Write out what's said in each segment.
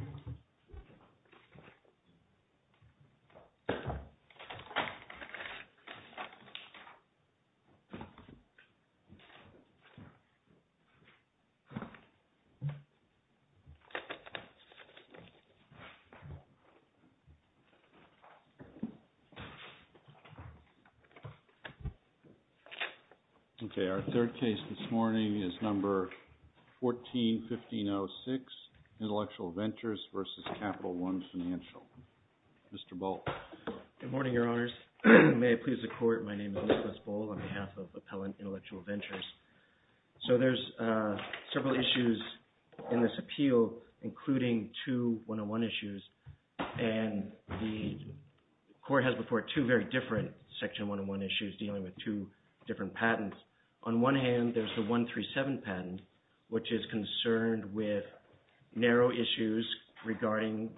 Intellectual Ventures, LLC. Okay, our third case this morning is number 14-1506, Intellectual Ventures v. Capital One Financial. Mr. Boal. Good morning, Your Honors. May it please the Court, my name is Nicholas Boal, on behalf of Appellant Intellectual Ventures. So there are several issues in this appeal, including two one-on-one issues, and the Court has before it two very different section one-on-one issues dealing with two different patents. On one hand, there is the 137 patent, which is concerned with narrow issues regarding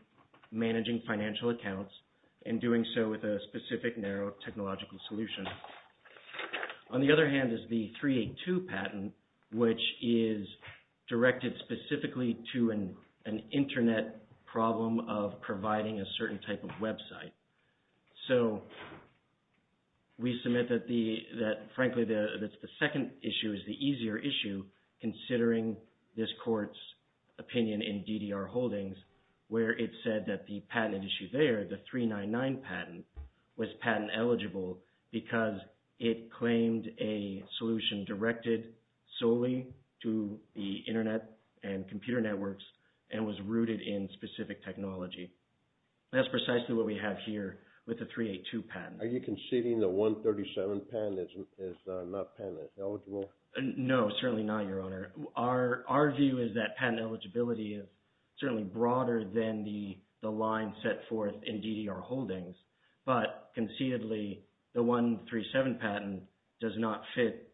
managing financial accounts and doing so with a specific narrow technological solution. On the other hand is the 382 patent, which is directed specifically to an Internet problem of providing a certain type of website. So we submit that, frankly, the second issue is the easier issue considering this Court's opinion in DDR Holdings where it said that the patent issue there, the 399 patent, was patent eligible because it claimed a solution directed solely to the Internet and computer networks and was rooted in specific technology. That's precisely what we have here with the 382 patent. Are you conceding the 137 patent is not patent eligible? No, certainly not, Your Honor. Our view is that patent eligibility is certainly broader than the line set forth in DDR Holdings, but concededly the 137 patent does not fit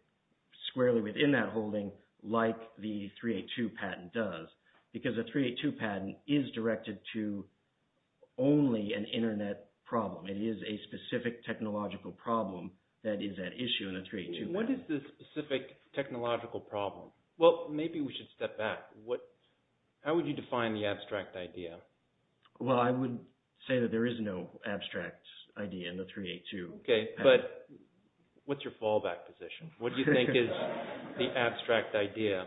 squarely within that holding like the 382 patent does because the 382 patent is directed to only an Internet problem. It is a specific technological problem that is at issue in the 382 patent. What is the specific technological problem? Well, maybe we should step back. How would you define the abstract idea? Well, I would say that there is no abstract idea in the 382 patent. Okay, but what's your fallback position? What do you think is the abstract idea?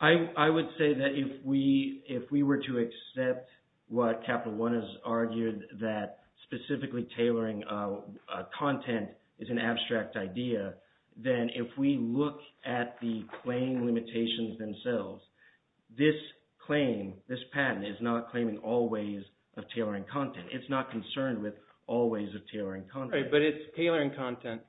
I would say that if we were to accept what Capital One has argued that specifically tailoring content is an abstract idea, then if we look at the claim limitations themselves, this claim, this patent is not claiming all ways of tailoring content. It's not concerned with all ways of tailoring content. Right, but it's tailoring content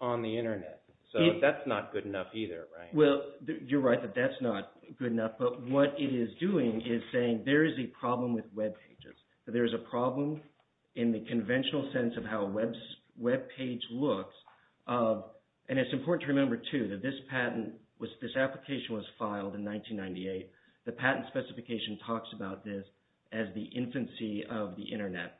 on the Internet, so that's not good enough either, right? Well, you're right that that's not good enough, but what it is doing is saying there is a problem with webpages, that there is a problem in the conventional sense of how a webpage looks. And it's important to remember too that this patent, this application was filed in 1998. The patent specification talks about this as the infancy of the Internet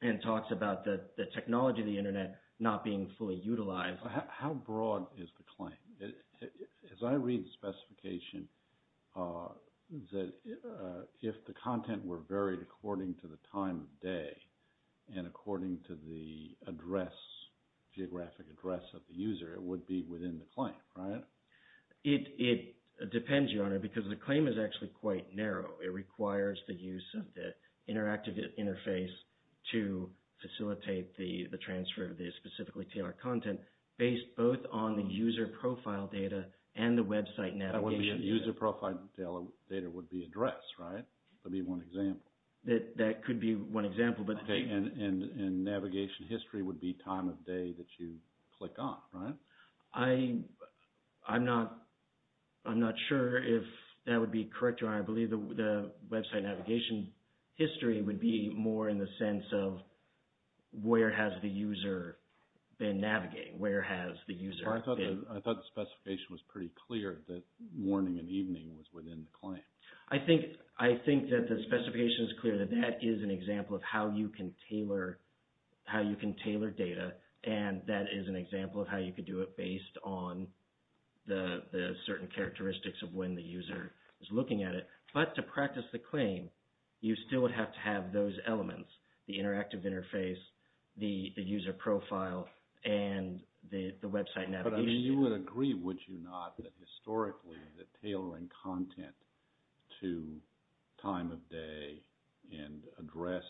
and talks about the technology of the Internet not being fully utilized. How broad is the claim? As I read the specification, if the content were varied according to the time of day and according to the geographic address of the user, it would be within the claim, right? It depends, Your Honor, because the claim is actually quite narrow. It requires the use of the interactive interface to facilitate the transfer of the specifically tailored content based both on the user profile data and the website navigation data. User profile data would be addressed, right? That would be one example. That could be one example. And navigation history would be time of day that you click on, right? I'm not sure if that would be correct, Your Honor. I believe the website navigation history would be more in the sense of where has the user been navigating? Where has the user been? I thought the specification was pretty clear that morning and evening was within the claim. I think that the specification is clear that that is an example of how you can tailor data, and that is an example of how you could do it But to practice the claim, you still would have to have those elements, the interactive interface, the user profile, and the website navigation. You would agree, would you not, that historically the tailoring content to time of day and address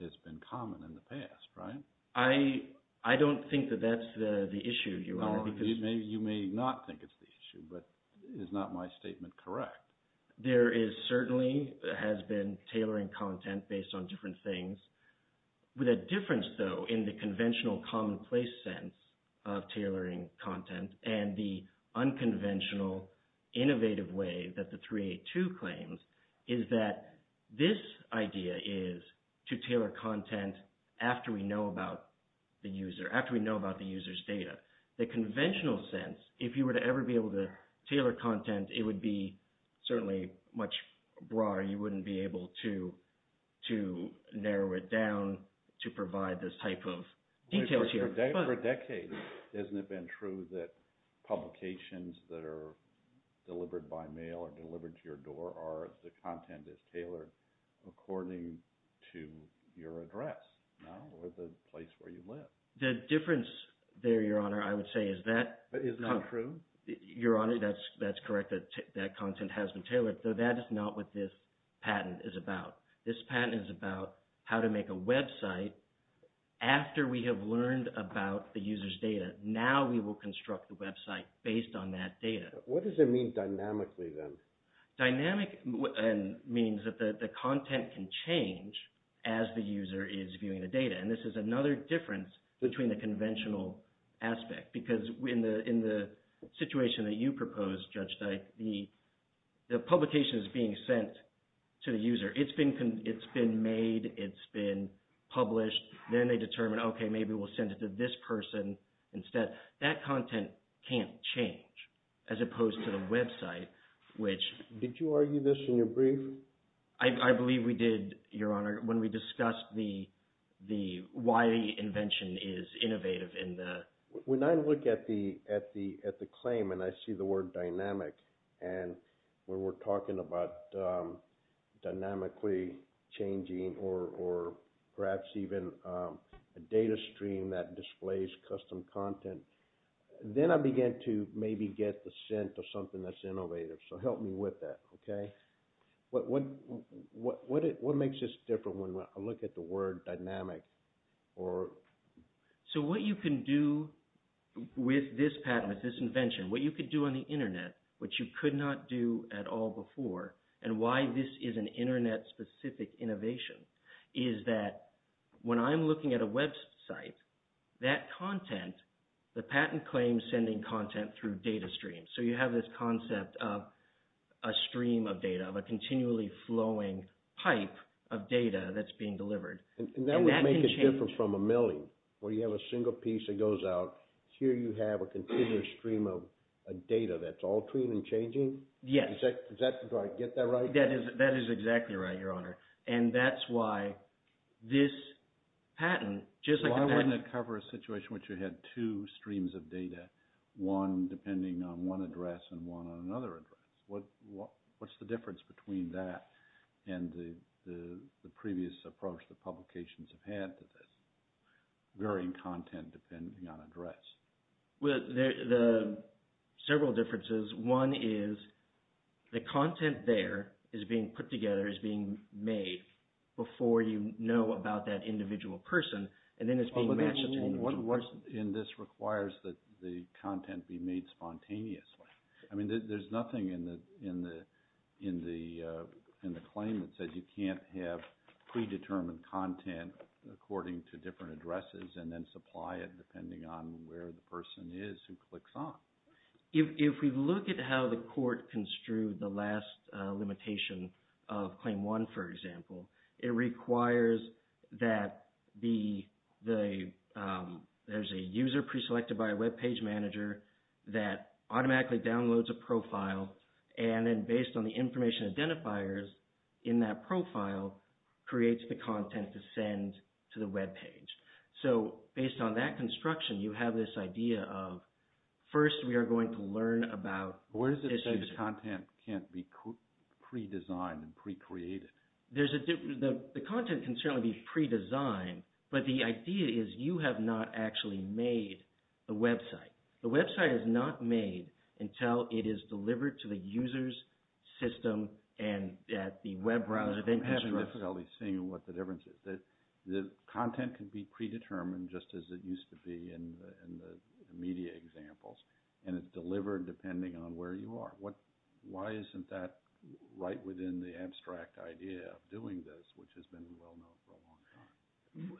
has been common in the past, right? I don't think that that's the issue, Your Honor. You may not think it's the issue, but is not my statement correct? There is certainly has been tailoring content based on different things. With a difference, though, in the conventional commonplace sense of tailoring content and the unconventional innovative way that the 382 claims is that this idea is to tailor content after we know about the user, after we know about the user's data. The conventional sense, if you were to ever be able to tailor content, and it would be certainly much broader. You wouldn't be able to narrow it down to provide this type of details here. For decades, isn't it been true that publications that are delivered by mail or delivered to your door are the content that's tailored according to your address, or the place where you live? The difference there, Your Honor, I would say is that… Is this true? Your Honor, that's correct. That content has been tailored, though that is not what this patent is about. This patent is about how to make a website after we have learned about the user's data. Now we will construct the website based on that data. What does it mean dynamically, then? Dynamic means that the content can change as the user is viewing the data, and this is another difference between the conventional aspect because in the situation that you proposed, Judge Dyke, the publication is being sent to the user. It's been made. It's been published. Then they determine, okay, maybe we'll send it to this person instead. That content can't change as opposed to the website, which… Did you argue this in your brief? I believe we did, Your Honor, when we discussed why the invention is innovative. When I look at the claim and I see the word dynamic, and when we're talking about dynamically changing or perhaps even a data stream that displays custom content, then I begin to maybe get the scent of something that's innovative. So help me with that, okay? What makes this different when I look at the word dynamic? So what you can do with this patent, with this invention, what you could do on the Internet, which you could not do at all before, and why this is an Internet-specific innovation, is that when I'm looking at a website, that content, the patent claims sending content through data streams. So you have this concept of a stream of data, of a continually flowing pipe of data that's being delivered. And that would make it different from a milling, where you have a single piece that goes out. Here you have a continuous stream of data that's altering and changing? Yes. Do I get that right? That is exactly right, Your Honor. And that's why this patent, just like a patent… Why wouldn't it cover a situation where you had two streams of data, one depending on one address and one on another address? What's the difference between that and the previous approach that publications have had to this? Varying content depending on address. Well, there are several differences. One is the content there is being put together, is being made before you know about that individual person, and then it's being matched… And this requires that the content be made spontaneously. I mean, there's nothing in the claim that said you can't have predetermined content according to different addresses and then supply it depending on where the person is who clicks on. If we look at how the court construed the last limitation of Claim 1, for example, it requires that there's a user preselected by a web page manager that automatically downloads a profile, and then based on the information identifiers in that profile, creates the content to send to the web page. So based on that construction, you have this idea of, first we are going to learn about… What is it that the content can't be pre-designed and pre-created? The content can certainly be pre-designed, but the idea is you have not actually made the website. The website is not made until it is delivered to the user's system and at the web browser… I'm having difficulty seeing what the difference is. The content can be predetermined just as it used to be in the media examples, and it's delivered depending on where you are. Why isn't that right within the abstract idea of doing this, which has been well known for a long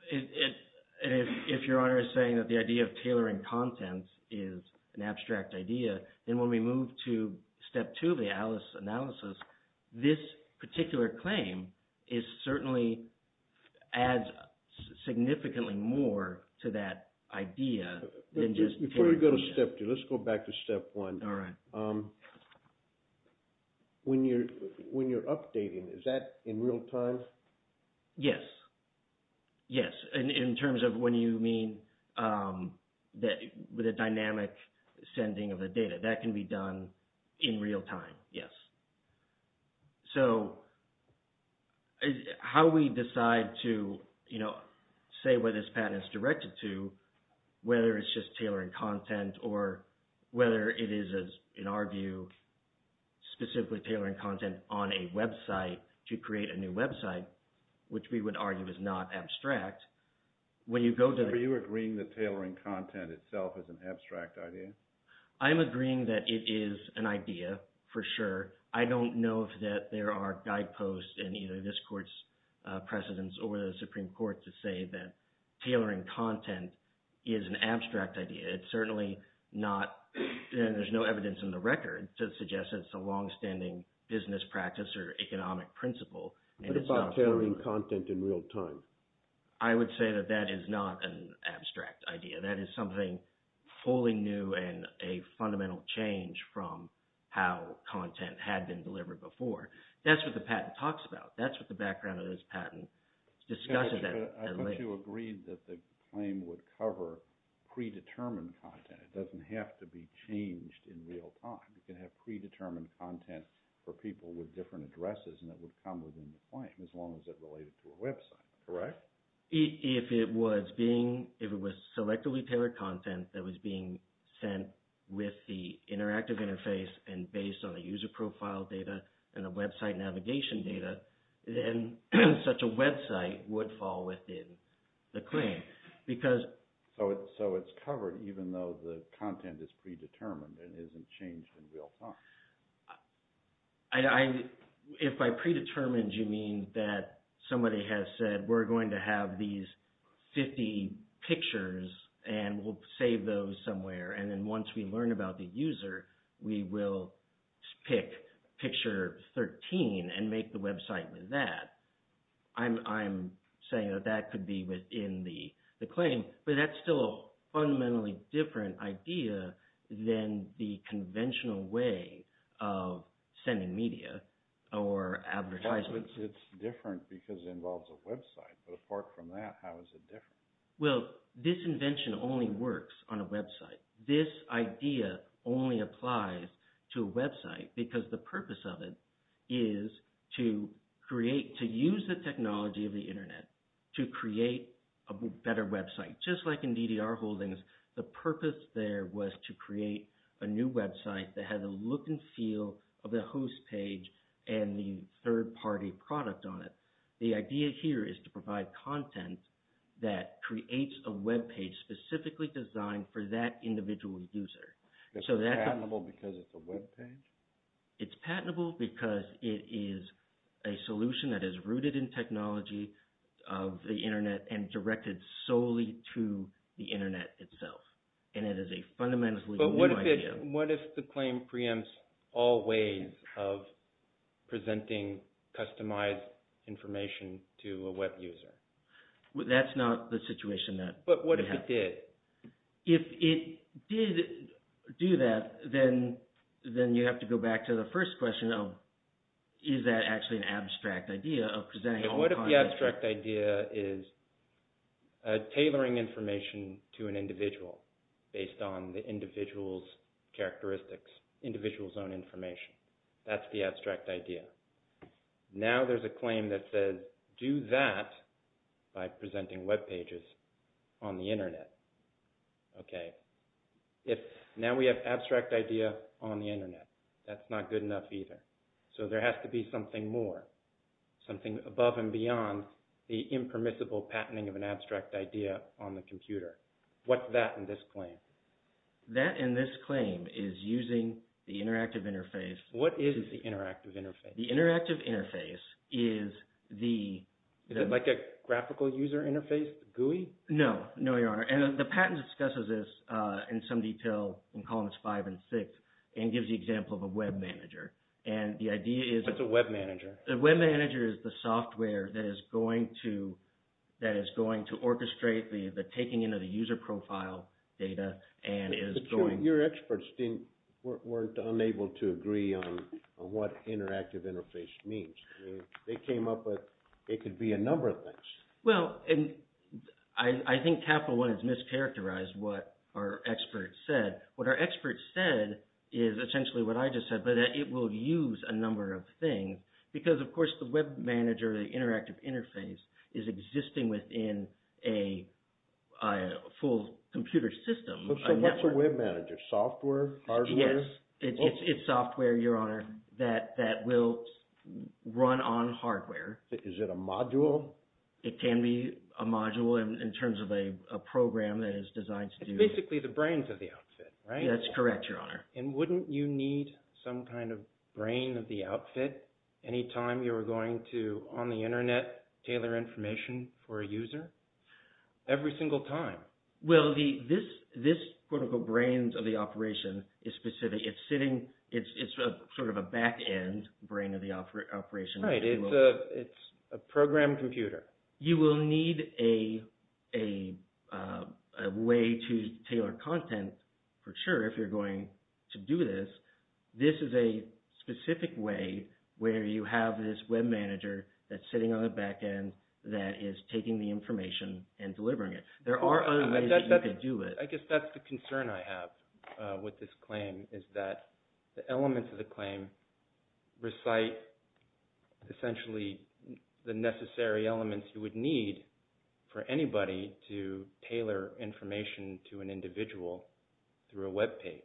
time? If Your Honor is saying that the idea of tailoring content is an abstract idea, then when we move to Step 2 of the ALICE analysis, this particular claim certainly adds significantly more to that idea than just… Before we go to Step 2, let's go back to Step 1. All right. When you're updating, is that in real time? Yes. In terms of when you mean the dynamic sending of the data, that can be done in real time, yes. So how we decide to say where this patent is directed to, whether it's just tailoring content or whether it is, in our view, specifically tailoring content on a website to create a new website, which we would argue is not abstract, when you go to… Are you agreeing that tailoring content itself is an abstract idea? I'm agreeing that it is an idea for sure. I don't know that there are guideposts in either this Court's precedence or the Supreme Court to say that tailoring content is an abstract idea. It's certainly not, and there's no evidence in the record to suggest that it's a longstanding business practice or economic principle. What about tailoring content in real time? I would say that that is not an abstract idea. That is something fully new and a fundamental change from how content had been delivered before. That's what the patent talks about. That's what the background of this patent discusses at length. You also agreed that the claim would cover predetermined content. It doesn't have to be changed in real time. You can have predetermined content for people with different addresses, and that would come within the claim as long as it related to a website, correct? If it was being – if it was selectively tailored content that was being sent with the interactive interface and based on the user profile data and the website navigation data, then such a website would fall within the claim. So it's covered even though the content is predetermined and isn't changed in real time? If by predetermined you mean that somebody has said, we're going to have these 50 pictures and we'll save those somewhere, and then once we learn about the user, we will pick picture 13 and make the website with that, I'm saying that that could be within the claim. But that's still a fundamentally different idea than the conventional way of sending media or advertisements. It's different because it involves a website. But apart from that, how is it different? Well, this invention only works on a website. This idea only applies to a website because the purpose of it is to create – to use the technology of the internet to create a better website. Just like in DDR holdings, the purpose there was to create a new website that had the look and feel of the host page and the third-party product on it. The idea here is to provide content that creates a webpage specifically designed for that individual user. It's patentable because it's a webpage? It's patentable because it is a solution that is rooted in technology of the internet and directed solely to the internet itself. And it is a fundamentally new idea. What if the claim preempts all ways of presenting customized information to a web user? That's not the situation that we have. But what if it did? If it did do that, then you have to go back to the first question of is that actually an abstract idea of presenting all kinds of – What if the abstract idea is tailoring information to an individual based on the individual's characteristics, individual's own information? That's the abstract idea. Now there's a claim that says do that by presenting webpages on the internet. Okay. Now we have abstract idea on the internet. That's not good enough either. So there has to be something more, something above and beyond the impermissible patenting of an abstract idea on the computer. What's that in this claim? That in this claim is using the interactive interface. What is the interactive interface? The interactive interface is the – Is it like a graphical user interface, GUI? No, no, Your Honor. And the patent discusses this in some detail in columns five and six and gives the example of a web manager. And the idea is – What's a web manager? A web manager is the software that is going to orchestrate the taking into the user profile data and is going – But your experts weren't unable to agree on what interactive interface means. They came up with it could be a number of things. Well, I think Capital One has mischaracterized what our experts said. What our experts said is essentially what I just said, that it will use a number of things because, of course, the web manager, the interactive interface, is existing within a full computer system. So what's a web manager? Software? Hardware? Yes, it's software, Your Honor, that will run on hardware. Is it a module? It can be a module in terms of a program that is designed to do – It's basically the brains of the outfit, right? That's correct, Your Honor. And wouldn't you need some kind of brain of the outfit any time you were going to, on the Internet, tailor information for a user every single time? Well, this, quote-unquote, brains of the operation is specific. It's sitting – it's sort of a back-end brain of the operation. Right, it's a program computer. You will need a way to tailor content for sure if you're going to do this. This is a specific way where you have this web manager that's sitting on the back-end that is taking the information and delivering it. There are other ways that you could do it. I guess that's the concern I have with this claim is that the elements of the claim recite, essentially, the necessary elements you would need for anybody to tailor information to an individual through a web page.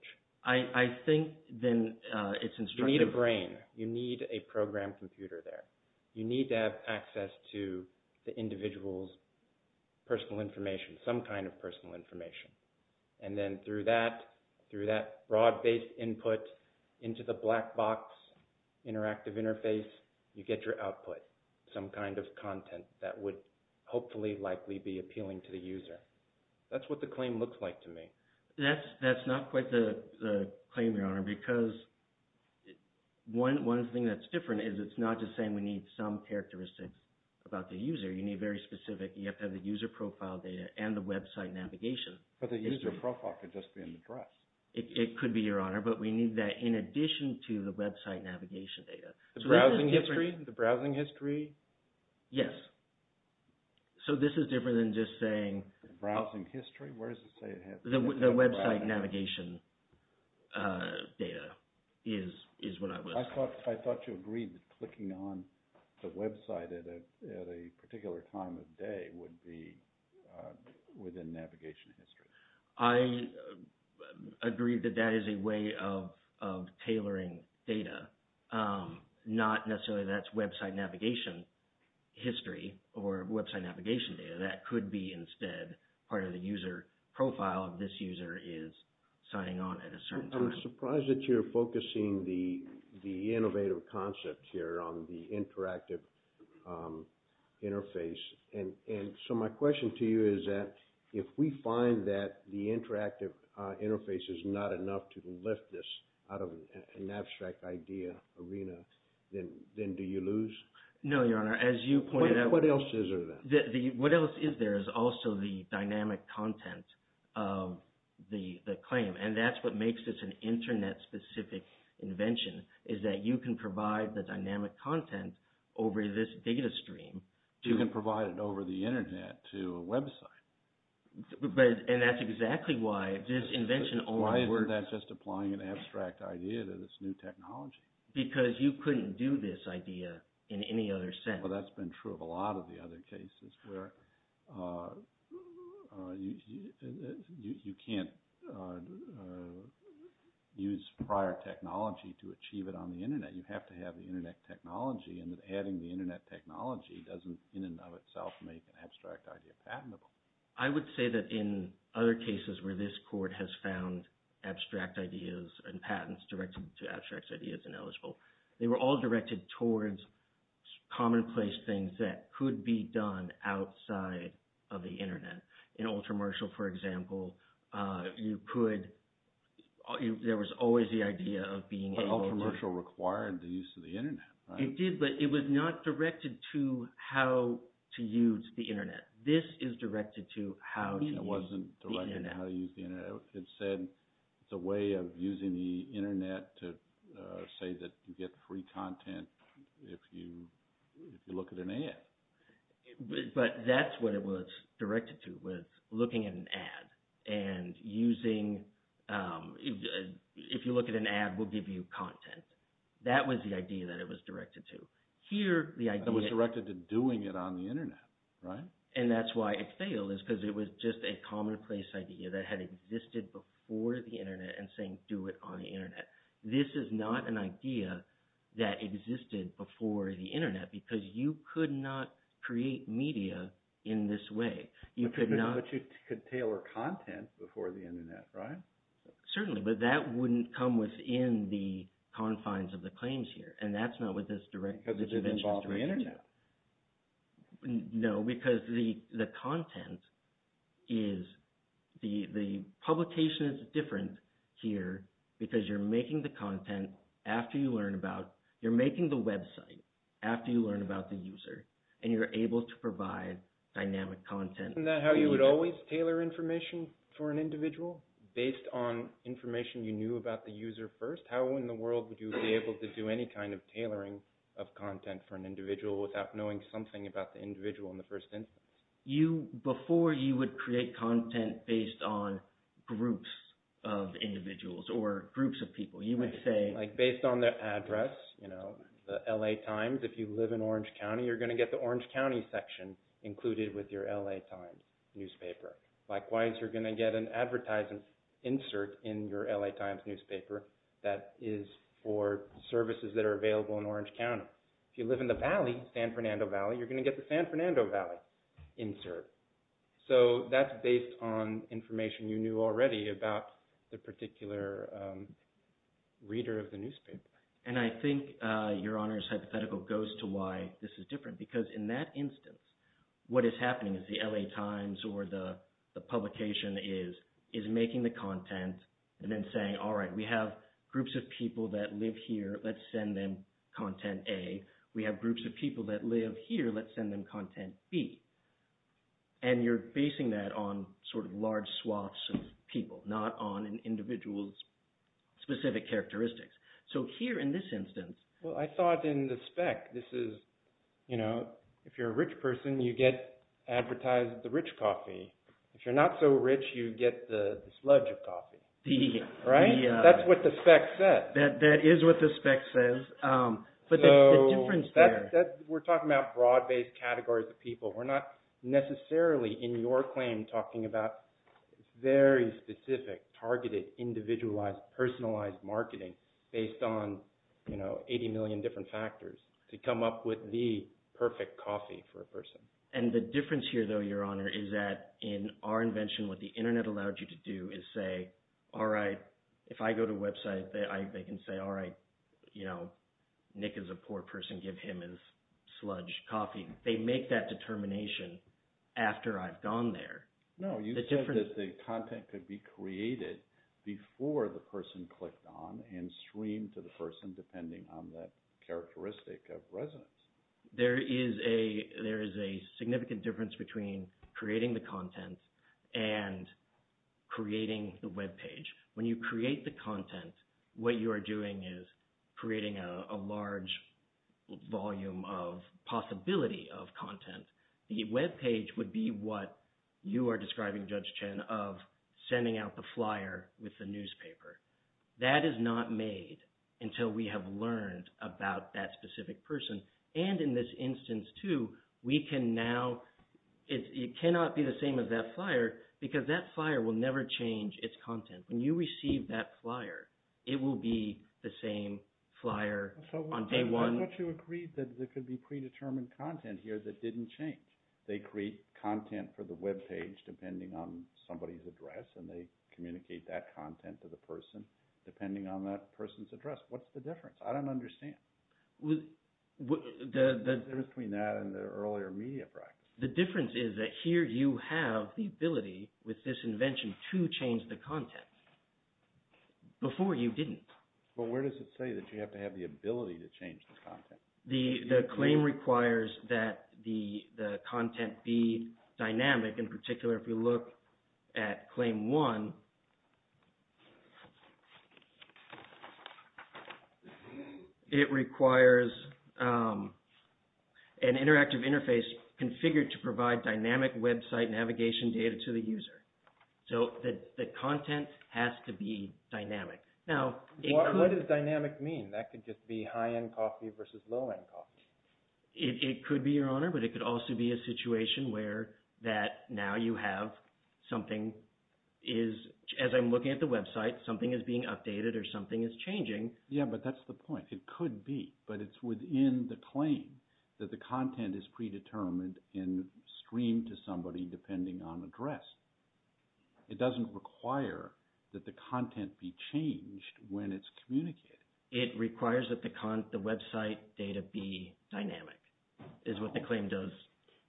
I think then it's instructive. You need a brain. You need a program computer there. You need to have access to the individual's personal information, some kind of personal information. And then through that, through that broad-based input into the black box interactive interface, you get your output, some kind of content that would hopefully likely be appealing to the user. That's what the claim looks like to me. That's not quite the claim, Your Honor, because one thing that's different is it's not just saying we need some characteristics about the user. You need very specific – you have to have the user profile data and the website navigation. But the user profile could just be an address. It could be, Your Honor. But we need that in addition to the website navigation data. The browsing history? The browsing history? Yes. So this is different than just saying – Browsing history? Where does it say it has – The website navigation data is what I would – I thought you agreed that clicking on the website at a particular time of day would be within navigation history. I agree that that is a way of tailoring data. Not necessarily that's website navigation history or website navigation data. That could be instead part of the user profile if this user is signing on at a certain time. I'm surprised that you're focusing the innovative concept here on the interactive interface. And so my question to you is that if we find that the interactive interface is not enough to lift this out of an abstract idea arena, then do you lose? No, Your Honor. As you pointed out – What else is there then? What else is there is also the dynamic content of the claim. And that's what makes this an internet-specific invention is that you can provide the dynamic content over this data stream. You can provide it over the internet to a website. And that's exactly why this invention only works – Why isn't that just applying an abstract idea to this new technology? Because you couldn't do this idea in any other sense. Well, that's been true of a lot of the other cases where you can't use prior technology to achieve it on the internet. You have to have the internet technology, and adding the internet technology doesn't in and of itself make an abstract idea patentable. I would say that in other cases where this court has found abstract ideas and patents directed to abstract ideas and eligible, they were all directed towards commonplace things that could be done outside of the internet. In Ultramarshall, for example, you could – there was always the idea of being able to – But Ultramarshall required the use of the internet, right? It did, but it was not directed to how to use the internet. This is directed to how to use the internet. It wasn't directed how to use the internet. It said it's a way of using the internet to say that you get free content if you look at an ad. But that's what it was directed to was looking at an ad and using – if you look at an ad, we'll give you content. That was the idea that it was directed to. Here, the idea – It was directed to doing it on the internet, right? And that's why it failed is because it was just a commonplace idea that had existed before the internet and saying do it on the internet. This is not an idea that existed before the internet because you could not create media in this way. You could not – But you could tailor content before the internet, right? Certainly, but that wouldn't come within the confines of the claims here, and that's not what this – Because it involves the internet. No, because the content is – The publication is different here because you're making the content after you learn about – You're making the website after you learn about the user, and you're able to provide dynamic content. Isn't that how you would always tailor information for an individual based on information you knew about the user first? How in the world would you be able to do any kind of tailoring of content for an individual without knowing something about the individual in the first instance? Before you would create content based on groups of individuals or groups of people, you would say – Like based on their address, you know, the LA Times. If you live in Orange County, you're going to get the Orange County section included with your LA Times newspaper. Likewise, you're going to get an advertising insert in your LA Times newspaper that is for services that are available in Orange County. If you live in the valley, San Fernando Valley, you're going to get the San Fernando Valley insert. So that's based on information you knew already about the particular reader of the newspaper. And I think Your Honor's hypothetical goes to why this is different because in that instance, what is happening is the LA Times or the publication is making the content and then saying, all right, we have groups of people that live here. Let's send them content A. We have groups of people that live here. Let's send them content B. And you're basing that on sort of large swaths of people, not on an individual's specific characteristics. So here in this instance – Well, I thought in the spec this is, you know, if you're a rich person, you get advertised the rich coffee. If you're not so rich, you get the sludge of coffee, right? That's what the spec says. That is what the spec says. So we're talking about broad-based categories of people. We're not necessarily in your claim talking about very specific, targeted, individualized, personalized marketing based on 80 million different factors to come up with the perfect coffee for a person. And the difference here though, Your Honor, is that in our invention, what the internet allowed you to do is say, all right, if I go to a website, they can say, all right, you know, Nick is a poor person. Give him his sludge coffee. They make that determination after I've gone there. No, you said that the content could be created before the person clicked on and streamed to the person depending on that characteristic of residence. There is a significant difference between creating the content and creating the webpage. When you create the content, what you are doing is creating a large volume of possibility of content. The webpage would be what you are describing, Judge Chen, of sending out the flyer with the newspaper. That is not made until we have learned about that specific person. And in this instance too, we can now – it cannot be the same as that flyer because that flyer will never change its content. When you receive that flyer, it will be the same flyer on day one. But you agreed that there could be predetermined content here that didn't change. They create content for the webpage depending on somebody's address and they communicate that content to the person depending on that person's address. What's the difference? I don't understand. The difference between that and the earlier media practice. The difference is that here you have the ability with this invention to change the content. Before, you didn't. But where does it say that you have to have the ability to change the content? The claim requires that the content be dynamic. In particular, if you look at Claim 1, it requires an interactive interface configured to provide dynamic website navigation data to the user. So the content has to be dynamic. What does dynamic mean? That could just be high-end coffee versus low-end coffee. It could be, Your Honor, but it could also be a situation where that now you have something is, as I'm looking at the website, something is being updated or something is changing. Yeah, but that's the point. It could be, but it's within the claim that the content is predetermined and streamed to somebody depending on address. It doesn't require that the content be changed when it's communicated. It requires that the website data be dynamic is what the claim does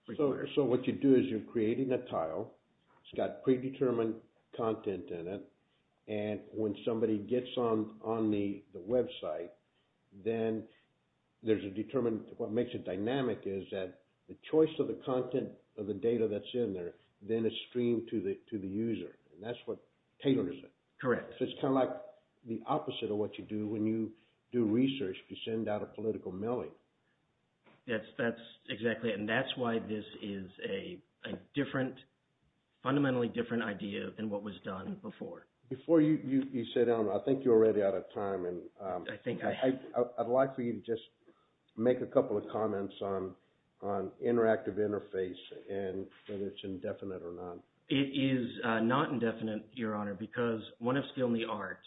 require. So what you do is you're creating a tile. It's got predetermined content in it. And when somebody gets on the website, then there's a determined what makes it dynamic is that the choice of the content of the data that's in there then is streamed to the user. And that's what caters it. Correct. So it's kind of like the opposite of what you do when you do research to send out a political mailing. That's exactly it. And that's why this is a fundamentally different idea than what was done before. Before you sit down, I think you're already out of time. I'd like for you to just make a couple of comments on interactive interface and whether it's indefinite or not. It is not indefinite, Your Honor, because one of skill in the art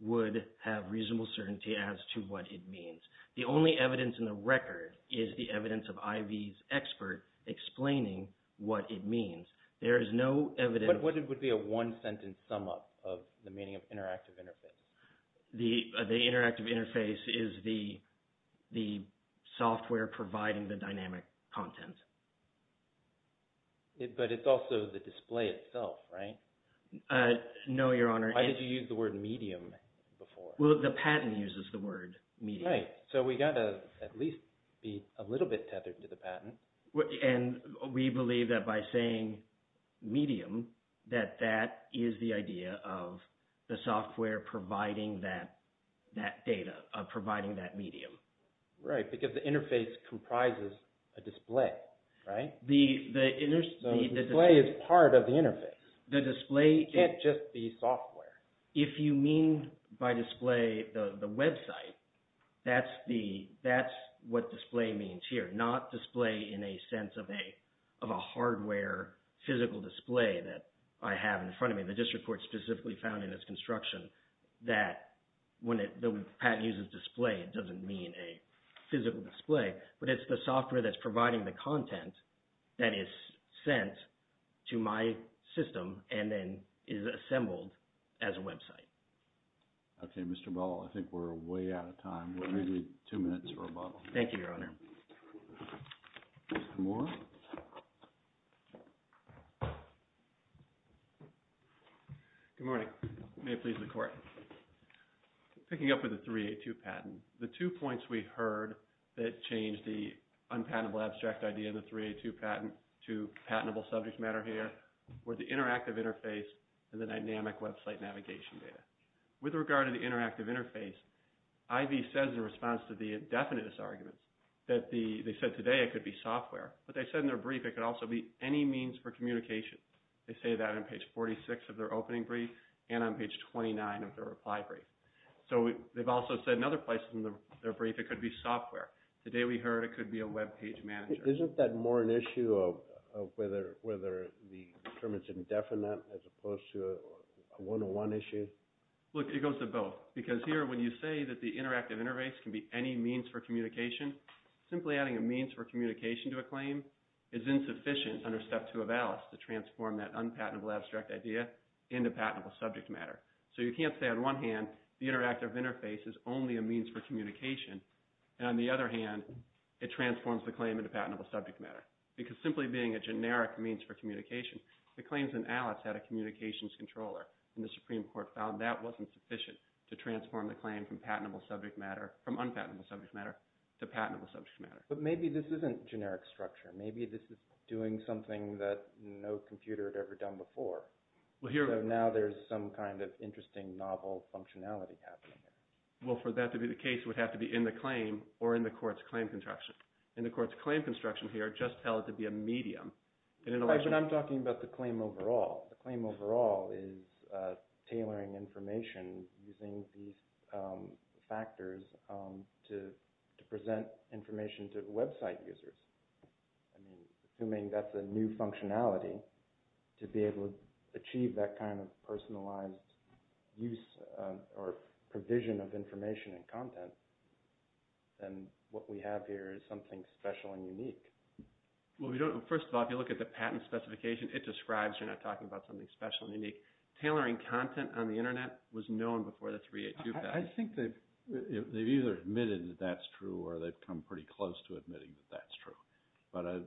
would have reasonable certainty as to what it means. The only evidence in the record is the evidence of IV's expert explaining what it means. There is no evidence. But what would be a one-sentence sum-up of the meaning of interactive interface? The interactive interface is the software providing the dynamic content. But it's also the display itself, right? No, Your Honor. Why did you use the word medium before? Well, the patent uses the word medium. Right. So we've got to at least be a little bit tethered to the patent. And we believe that by saying medium that that is the idea of the software providing that data, providing that medium. Right, because the interface comprises a display, right? So the display is part of the interface. It can't just be software. If you mean by display the website, that's what display means here, not display in a sense of a hardware physical display that I have in front of me. The district court specifically found in its construction that when the patent uses display, it doesn't mean a physical display. But it's the software that's providing the content that is sent to my system and then is assembled as a website. Okay, Mr. Ball, I think we're way out of time. We need two minutes for rebuttal. Thank you, Your Honor. Mr. Moore. Good morning. May it please the Court. Picking up with the 382 patent, the two points we heard that changed the unpatentable abstract idea of the 382 patent to patentable subject matter here were the interactive interface and the dynamic website navigation data. With regard to the interactive interface, IV says in response to the indefinite arguments that they said today it could be software. But they said in their brief it could also be any means for communication. They say that on page 46 of their opening brief and on page 29 of their reply brief. So they've also said in other places in their brief it could be software. Today we heard it could be a webpage manager. Isn't that more an issue of whether the term is indefinite as opposed to a one-to-one issue? Look, it goes to both. Because here when you say that the interactive interface can be any means for communication, simply adding a means for communication to a claim is insufficient under Step 2 of ALICE to transform that unpatentable abstract idea into patentable subject matter. So you can't say on one hand the interactive interface is only a means for communication and on the other hand it transforms the claim into patentable subject matter. Because simply being a generic means for communication, the claims in ALICE had a communications controller, and the Supreme Court found that wasn't sufficient to transform the claim from unpatentable subject matter to patentable subject matter. But maybe this isn't generic structure. Maybe this is doing something that no computer had ever done before. So now there's some kind of interesting novel functionality happening here. Well, for that to be the case, it would have to be in the claim or in the court's claim construction. In the court's claim construction here, just tell it to be a medium. But I'm talking about the claim overall. The claim overall is tailoring information using these factors to present information to website users, assuming that's a new functionality to be able to achieve that kind of personalized use or provision of information and content. And what we have here is something special and unique. Well, first of all, if you look at the patent specification, it describes you're not talking about something special and unique. Tailoring content on the Internet was known before the 382 patent. I think they've either admitted that that's true or they've come pretty close to admitting that that's true. But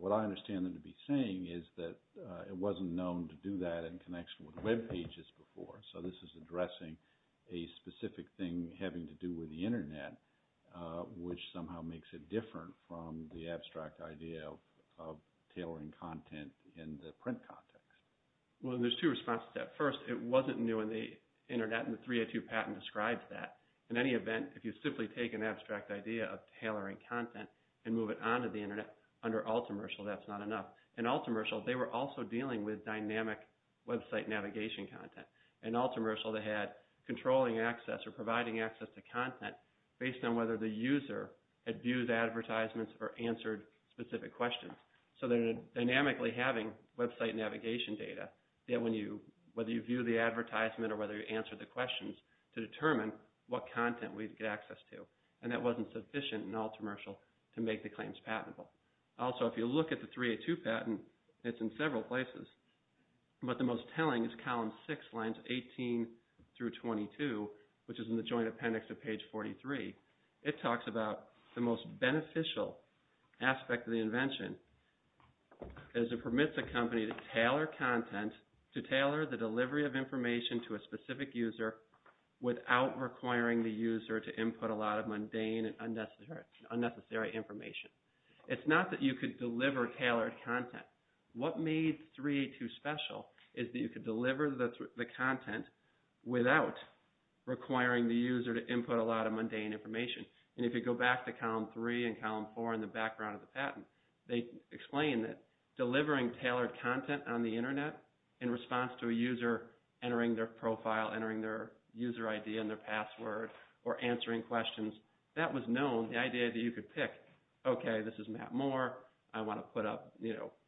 what I understand them to be saying is that it wasn't known to do that in connection with web pages before. So this is addressing a specific thing having to do with the Internet, which somehow makes it different from the abstract idea of tailoring content in the print context. Well, there's two responses to that. First, it wasn't new in the Internet, and the 382 patent describes that. In any event, if you simply take an abstract idea of tailoring content and move it onto the Internet under Altomercial, that's not enough. In Altomercial, they were also dealing with dynamic website navigation content. In Altomercial, they had controlling access or providing access to content based on whether the user had viewed advertisements or answered specific questions. So they're dynamically having website navigation data, whether you view the advertisement or whether you answer the questions, to determine what content we'd get access to. And that wasn't sufficient in Altomercial to make the claims patentable. Also, if you look at the 382 patent, it's in several places. But the most telling is column six, lines 18 through 22, which is in the joint appendix to page 43. It talks about the most beneficial aspect of the invention as it permits a company to tailor content, to tailor the delivery of information to a specific user without requiring the user to input a lot of mundane and unnecessary information. It's not that you could deliver tailored content. What made 382 special is that you could deliver the content without requiring the user to input a lot of mundane information. And if you go back to column three and column four in the background of the patent, they explain that delivering tailored content on the Internet in response to a user entering their profile, entering their user ID and their password, or answering questions, that was known, the idea that you could pick, okay, this is Matt Moore, I want to put up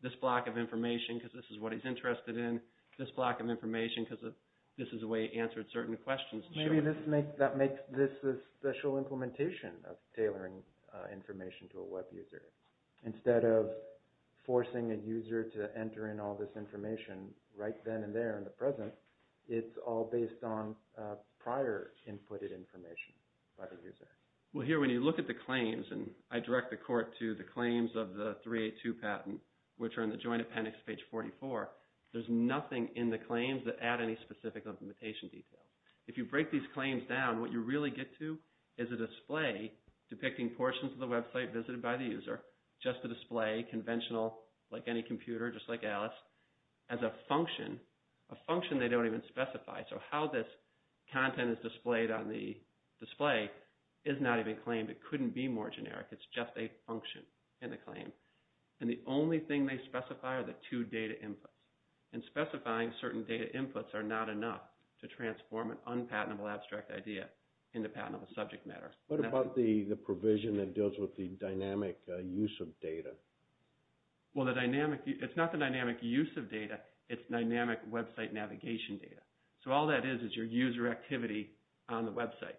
this block of information because this is what he's interested in, this block of information because this is the way he answered certain questions. Maybe that makes this a special implementation of tailoring information to a web user. Instead of forcing a user to enter in all this information right then and there in the present, it's all based on prior inputted information by the user. Well, here when you look at the claims, and I direct the court to the claims of the 382 patent, which are in the Joint Appendix, page 44, there's nothing in the claims that add any specific implementation detail. If you break these claims down, what you really get to is a display depicting portions of the website visited by the user, just a display, conventional, like any computer, just like Alice, as a function, a function they don't even specify. So how this content is displayed on the display is not even claimed. It couldn't be more generic. It's just a function in the claim. And the only thing they specify are the two data inputs. And specifying certain data inputs are not enough to transform an unpatentable abstract idea into patentable subject matter. What about the provision that deals with the dynamic use of data? Well, it's not the dynamic use of data. It's dynamic website navigation data. So all that is is your user activity on the website.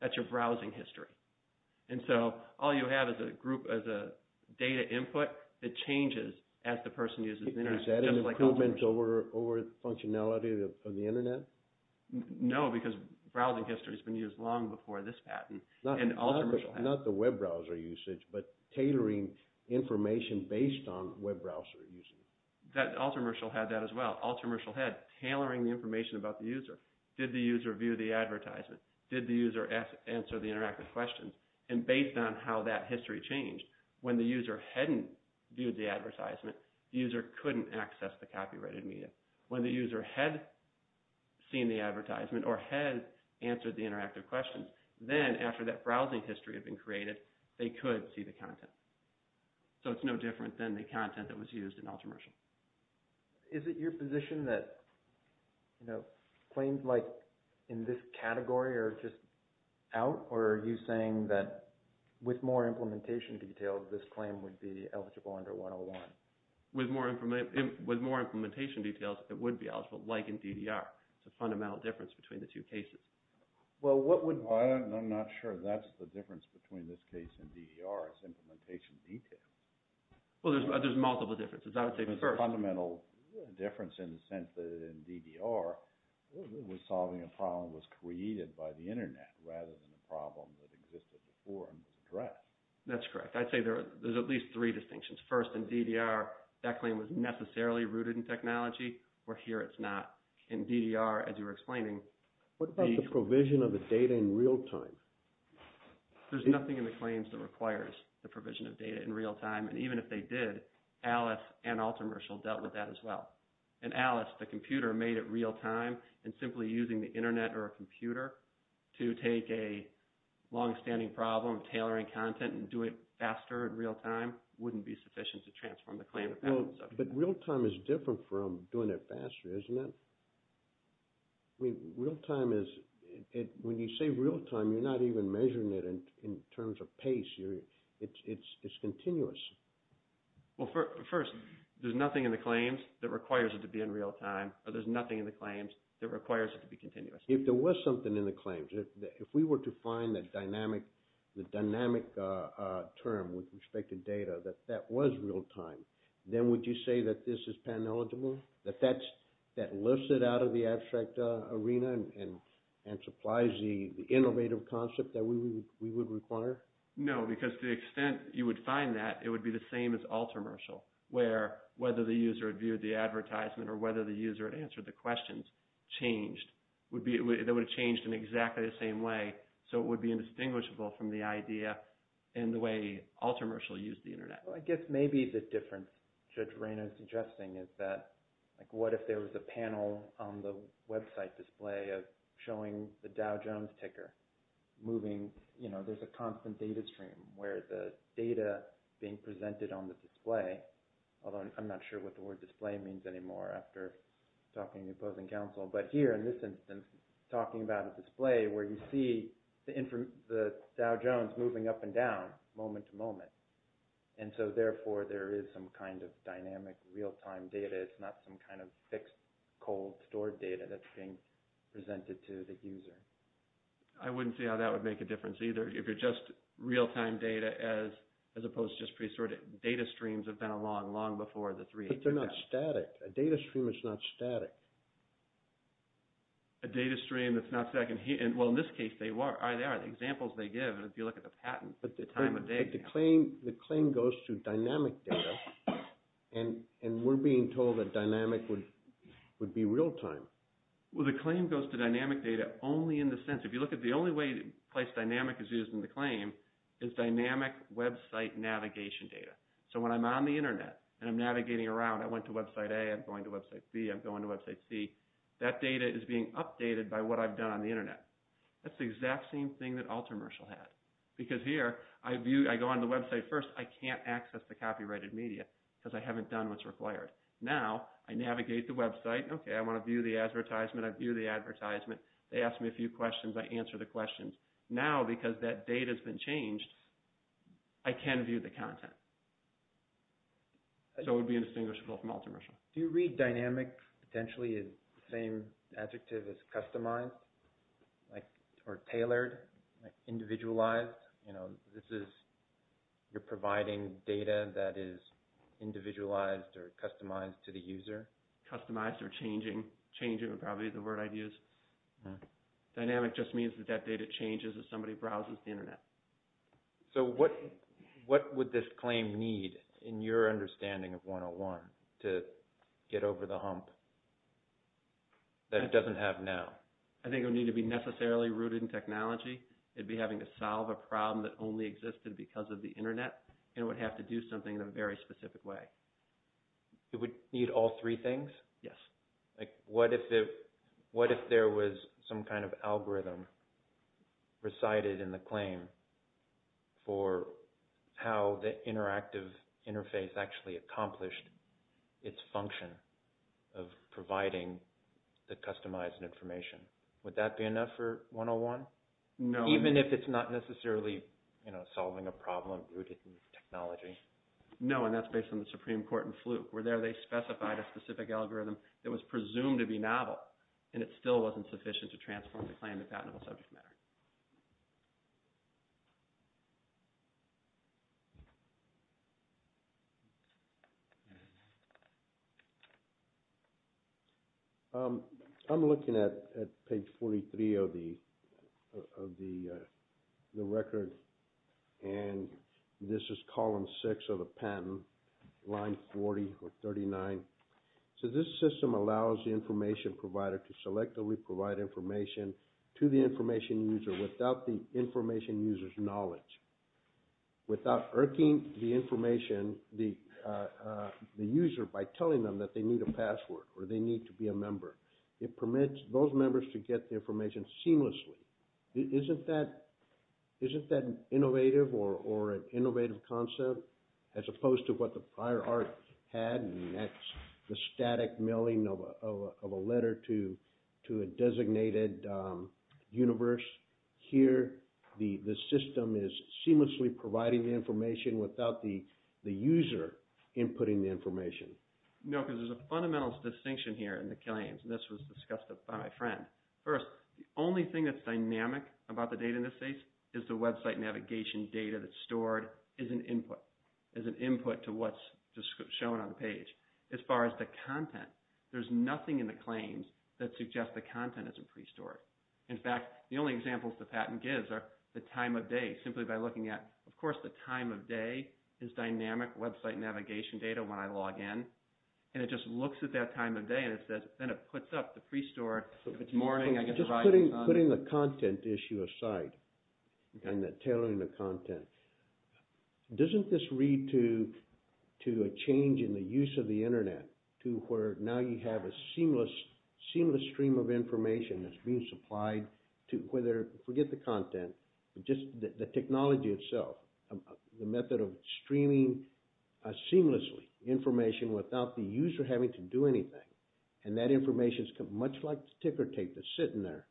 That's your browsing history. And so all you have is a data input that changes as the person uses the internet. Is that an improvement over functionality of the internet? No, because browsing history has been used long before this patent. Not the web browser usage, but tailoring information based on web browser usage. Ultramershal had that as well. Ultramershal had tailoring the information about the user. Did the user view the advertisement? Did the user answer the interactive questions? And based on how that history changed, when the user hadn't viewed the advertisement, the user couldn't access the copyrighted media. When the user had seen the advertisement or had answered the interactive questions, then after that browsing history had been created, they could see the content. So it's no different than the content that was used in Ultramershal. Is it your position that claims like in this category are just out? Or are you saying that with more implementation details, this claim would be eligible under 101? With more implementation details, it would be eligible, like in DDR. It's a fundamental difference between the two cases. I'm not sure that's the difference between this case and DDR. It's implementation details. Well, there's multiple differences. The fundamental difference in the sense that in DDR, solving a problem was created by the Internet rather than a problem that existed before and was addressed. That's correct. I'd say there's at least three distinctions. First, in DDR, that claim was necessarily rooted in technology, where here it's not. In DDR, as you were explaining, What about the provision of the data in real time? There's nothing in the claims that requires the provision of data in real time. And even if they did, Alice and Ultramershal dealt with that as well. In Alice, the computer made it real time, and simply using the Internet or a computer to take a longstanding problem, tailoring content, and do it faster in real time wouldn't be sufficient to transform the claim. But real time is different from doing it faster, isn't it? Real time is... When you say real time, you're not even measuring it in terms of pace. It's continuous. Well, first, there's nothing in the claims that requires it to be in real time, or there's nothing in the claims that requires it to be continuous. If there was something in the claims, if we were to find the dynamic term with respect to data, that that was real time, then would you say that this is pan-eligible? That that lifts it out of the abstract arena and supplies the innovative concept that we would require? No, because to the extent you would find that, it would be the same as Ultramershal, where whether the user had viewed the advertisement or whether the user had answered the questions changed. That would have changed in exactly the same way, so it would be indistinguishable from the idea and the way Ultramershal used the Internet. I guess maybe the difference Judge Reyna is suggesting is that what if there was a panel on the website display showing the Dow Jones ticker moving... There's a constant data stream where the data being presented on the display, although I'm not sure what the word display means anymore after talking to opposing counsel, but here in this instance, talking about a display where you see the Dow Jones moving up and down moment to moment, and so therefore, there is some kind of dynamic real-time data. It's not some kind of fixed, cold, stored data that's being presented to the user. I wouldn't see how that would make a difference either. If you're just real-time data as opposed to just pre-stored data, data streams have been along long before the 382 test. But they're not static. A data stream is not static. A data stream that's not second-hand. Well, in this case, they are. The examples they give, and if you look at the patent, the time of day... The claim goes to dynamic data, and we're being told that dynamic would be real-time. Well, the claim goes to dynamic data only in the sense... If you look at the only place dynamic is used in the claim is dynamic website navigation data. So when I'm on the Internet and I'm navigating around, I went to website A, I'm going to website B, I'm going to website C, that data is being updated by what I've done on the Internet. That's the exact same thing that AlterMercial had. Because here, I go on the website first, I can't access the copyrighted media because I haven't done what's required. Now, I navigate the website, okay, I want to view the advertisement, I view the advertisement, they ask me a few questions, I answer the questions. Now, because that data's been changed, I can view the content. So it would be indistinguishable from AlterMercial. Do you read dynamic potentially as the same adjective as customized or tailored, individualized? You know, this is... you're providing data that is individualized or customized to the user? Customized or changing. Changing would probably be the word I'd use. Dynamic just means that that data changes as somebody browses the Internet. So what would this claim need, in your understanding of 101, to get over the hump that it doesn't have now? I think it would need to be necessarily rooted in technology, it'd be having to solve a problem that only existed because of the Internet, and it would have to do something in a very specific way. It would need all three things? Yes. Like, what if there was some kind of algorithm presided in the claim for how the interactive interface actually accomplished its function of providing the customized information? Would that be enough for 101? No. Even if it's not necessarily, you know, solving a problem rooted in technology? No, and that's based on the Supreme Court in Fluke, where there they specified a specific algorithm that was presumed to be novel, and it still wasn't sufficient to transform the claim in a patentable subject matter. I'm looking at page 43 of the record, and this is column 6 of the patent, line 40 or 39. So this system allows the information provider to selectively provide information to the information user without the information user's knowledge. Without irking the information, the user, by telling them that they need a password or they need to be a member. It permits those members to get the information seamlessly. Isn't that innovative or an innovative concept as opposed to what the prior art had and that's the static mailing of a letter to a designated universe? Here, the system is seamlessly providing the information without the user inputting the information. No, because there's a fundamental distinction here in the claims, and this was discussed by my friend. First, the only thing that's dynamic about the data in this case is the website navigation data that's stored is an input to what's just shown on the page. As far as the content, there's nothing in the claims that suggests the content isn't pre-stored. In fact, the only examples the patent gives are the time of day, simply by looking at, of course, the time of day is dynamic website navigation data when I log in, and it just looks at that time of day and then it puts up the pre-stored. If it's morning, I can provide the content. Just putting the content issue aside and the tailoring of content, doesn't this read to a change in the use of the internet to where now you have a seamless stream of information that's being supplied to whether, forget the content, just the technology itself, the method of streaming seamlessly information without the user having to do anything, and that information is much like the ticker tape that's sitting there.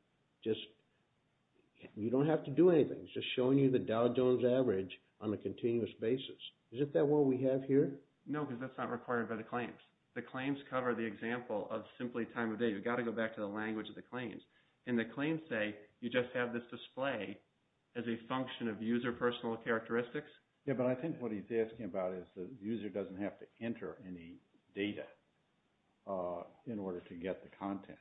You don't have to do anything. It's just showing you the Dow Jones average on a continuous basis. Is that what we have here? No, because that's not required by the claims. The claims cover the example of simply time of day. You've got to go back to the language of the claims. And the claims say you just have this display as a function of user personal characteristics. Yeah, but I think what he's asking about is the user doesn't have to enter any data in order to get the content.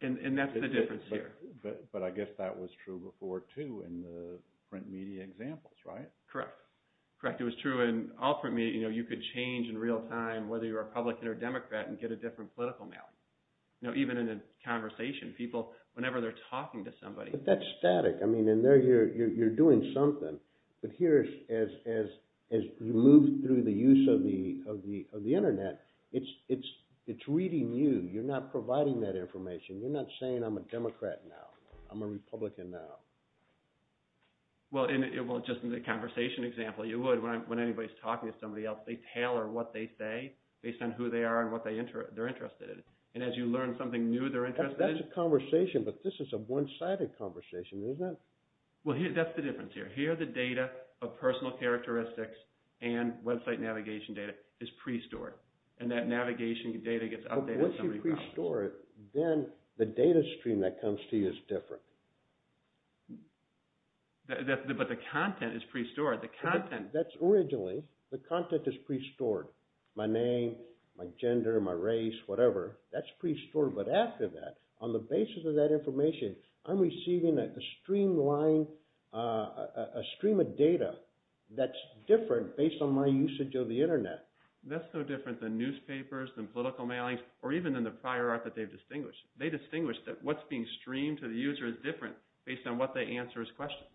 And that's the difference here. But I guess that was true before, too, in the print media examples, right? Correct. Correct, it was true in all print media. You could change in real time, whether you're a Republican or a Democrat, and get a different political map. Even in a conversation, whenever they're talking to somebody... But that's static. You're doing something. But here, as you move through the use of the Internet, it's reading you. You're not providing that information. You're not saying, I'm a Democrat now. I'm a Republican now. Well, just in the conversation example, you would. When anybody's talking to somebody else, they tailor what they say based on who they are and what they're interested in. And as you learn something new they're interested in... That's a conversation, but this is a one-sided conversation, isn't it? Well, that's the difference here. Here, the data of personal characteristics and website navigation data is pre-stored. And that navigation data gets updated... Once you pre-store it, then the data stream that comes to you is different. But the content is pre-stored. That's originally... The content is pre-stored. My name, my gender, my race, whatever. That's pre-stored, but after that, on the basis of that information, I'm receiving a stream of data that's different based on my usage of the Internet. That's no different than newspapers, than political mailings, or even in the prior art that they've distinguished. They distinguish that what's being streamed to the user is different based on what they answer as questions.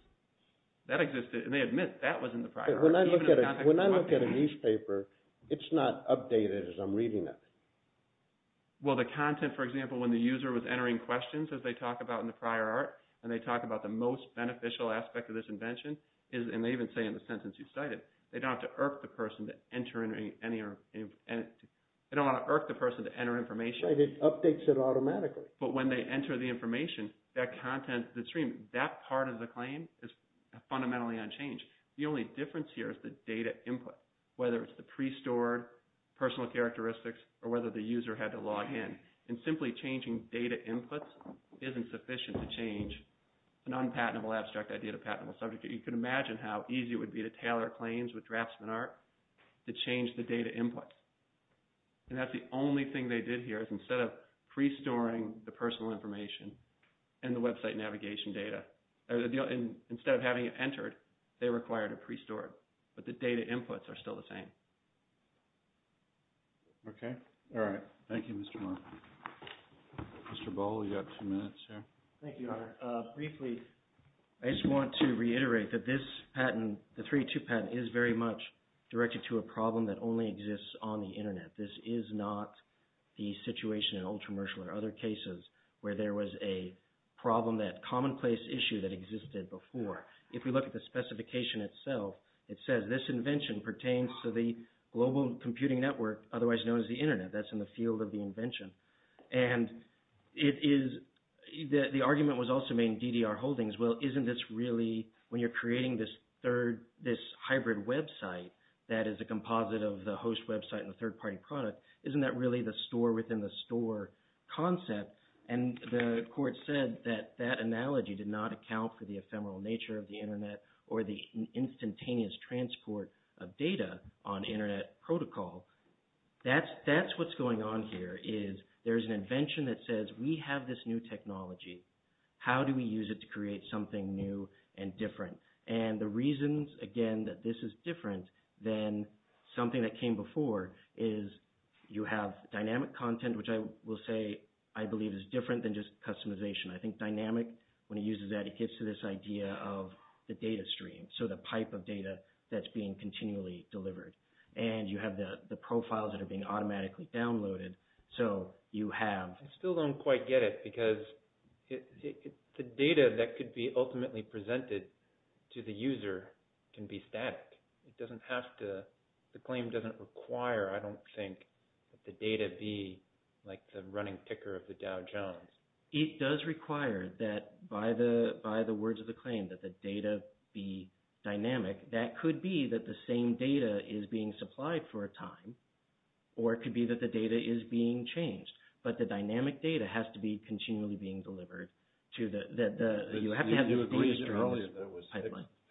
That existed, and they admit that was in the prior art. When I look at a newspaper, it's not updated as I'm reading it. Well, the content, for example, when the user was entering questions, as they talk about in the prior art, and they talk about the most beneficial aspect of this invention, and they even say in the sentence you cited, they don't have to irk the person to enter any... They don't want to irk the person to enter information. Right, it updates it automatically. But when they enter the information, that content, the stream, that part of the claim is fundamentally unchanged. The only difference here is the data input, whether it's the pre-stored personal characteristics or whether the user had to log in. And simply changing data inputs isn't sufficient to change an unpatentable abstract idea to a patentable subject. You can imagine how easy it would be to tailor claims with Draftsman Art to change the data inputs. And that's the only thing they did here and the website navigation data, instead of having it entered, they required it pre-stored. But the data inputs are still the same. Okay, all right. Thank you, Mr. Martin. Mr. Boll, you've got two minutes here. Thank you, Honor. Briefly, I just want to reiterate that this patent, the 3.2 patent, is very much directed to a problem that only exists on the Internet. This is not the situation in Ultramershal or other cases where there was a problem, that commonplace issue that existed before. If we look at the specification itself, it says this invention pertains to the global computing network otherwise known as the Internet. That's in the field of the invention. And the argument was also made in DDR Holdings, well, isn't this really, when you're creating this hybrid website that is a composite of the host website and the third-party product, isn't that really the store-within-the-store concept? And the court said that that analogy did not account for the ephemeral nature of the Internet or the instantaneous transport of data on Internet protocol. That's what's going on here, is there's an invention that says we have this new technology. How do we use it to create something new and different? And the reasons, again, that this is different than something that came before is you have dynamic content, which I will say I believe is different than just customization. I think dynamic, when it uses that, it gets to this idea of the data stream, so the pipe of data that's being continually delivered. And you have the profiles that are being automatically downloaded, so you have... I still don't quite get it because the data that could be ultimately presented to the user can be static. It doesn't have to, the claim doesn't require, I don't think, that the data be like the running ticker of the Dow Jones. It does require that, by the words of the claim, that the data be dynamic. That could be that the same data is being supplied for a time, or it could be that the data is being changed, but the dynamic data has to be continually being delivered to the... You have to have... You agreed earlier that with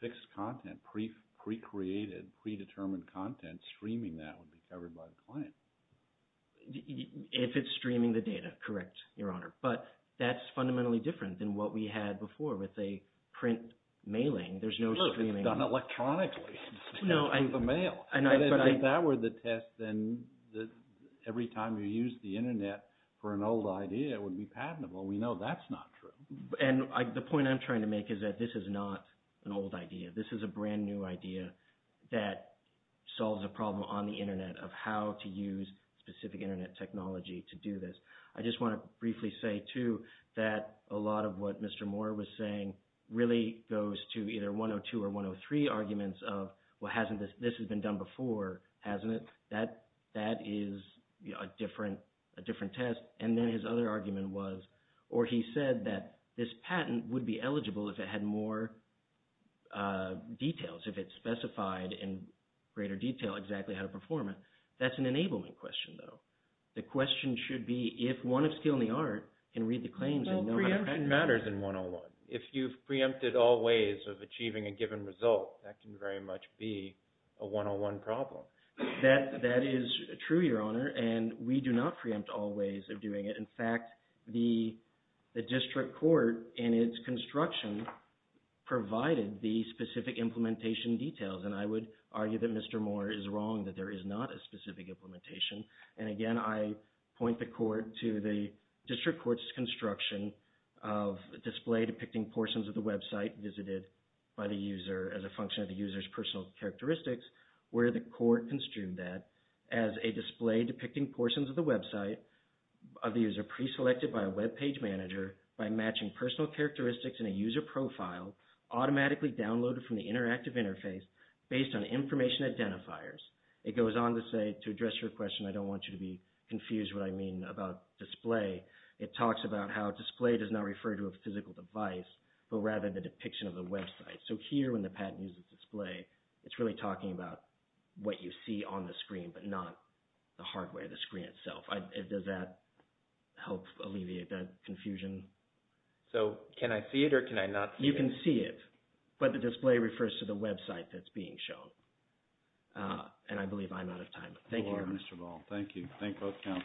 fixed content, pre-created, pre-determined content, streaming that would be covered by the client. If it's streaming the data, correct, Your Honor. But that's fundamentally different than what we had before with a print mailing. There's no streaming. It's done electronically through the mail. If that were the test, then every time you used the Internet for an old idea, it would be patentable. We know that's not true. And the point I'm trying to make is that this is not an old idea. This is a brand new idea that solves a problem on the Internet of how to use specific Internet technology to do this. I just want to briefly say, too, that a lot of what Mr. Moore was saying really goes to either 102 or 103 arguments of, well, hasn't this... This has been done before, hasn't it? That is a different test. And then his other argument was, or he said that this patent would be eligible if it had more details, if it specified in greater detail exactly how to perform it. That's an enablement question, though. The question should be, if one of skill and the art can read the claims... Well, preemption matters in 101. If you've preempted all ways of achieving a given result, that can very much be a 101 problem. That is true, Your Honor, and we do not preempt all ways of doing it. In fact, the district court in its construction provided the specific implementation details, and I would argue that Mr. Moore is wrong, that there is not a specific implementation. And again, I point the court to the district court's construction of a display depicting portions of the website visited by the user as a function of the user's personal characteristics, where the court construed that as a display depicting portions of the website of the user preselected by a web page manager by matching personal characteristics in a user profile automatically downloaded from the interactive interface based on information identifiers. It goes on to say, to address your question, I don't want you to be confused what I mean about display. It talks about how display does not refer to a physical device, but rather the depiction of the website. So here, when the patent uses display, it's really talking about what you see on the screen, but not the hardware, the screen itself. Does that help alleviate that confusion? So can I see it or can I not see it? You can see it, but the display refers to the website that's being shown. And I believe I'm out of time. Thank you. Mr. Ball, thank you. Thank both counsel.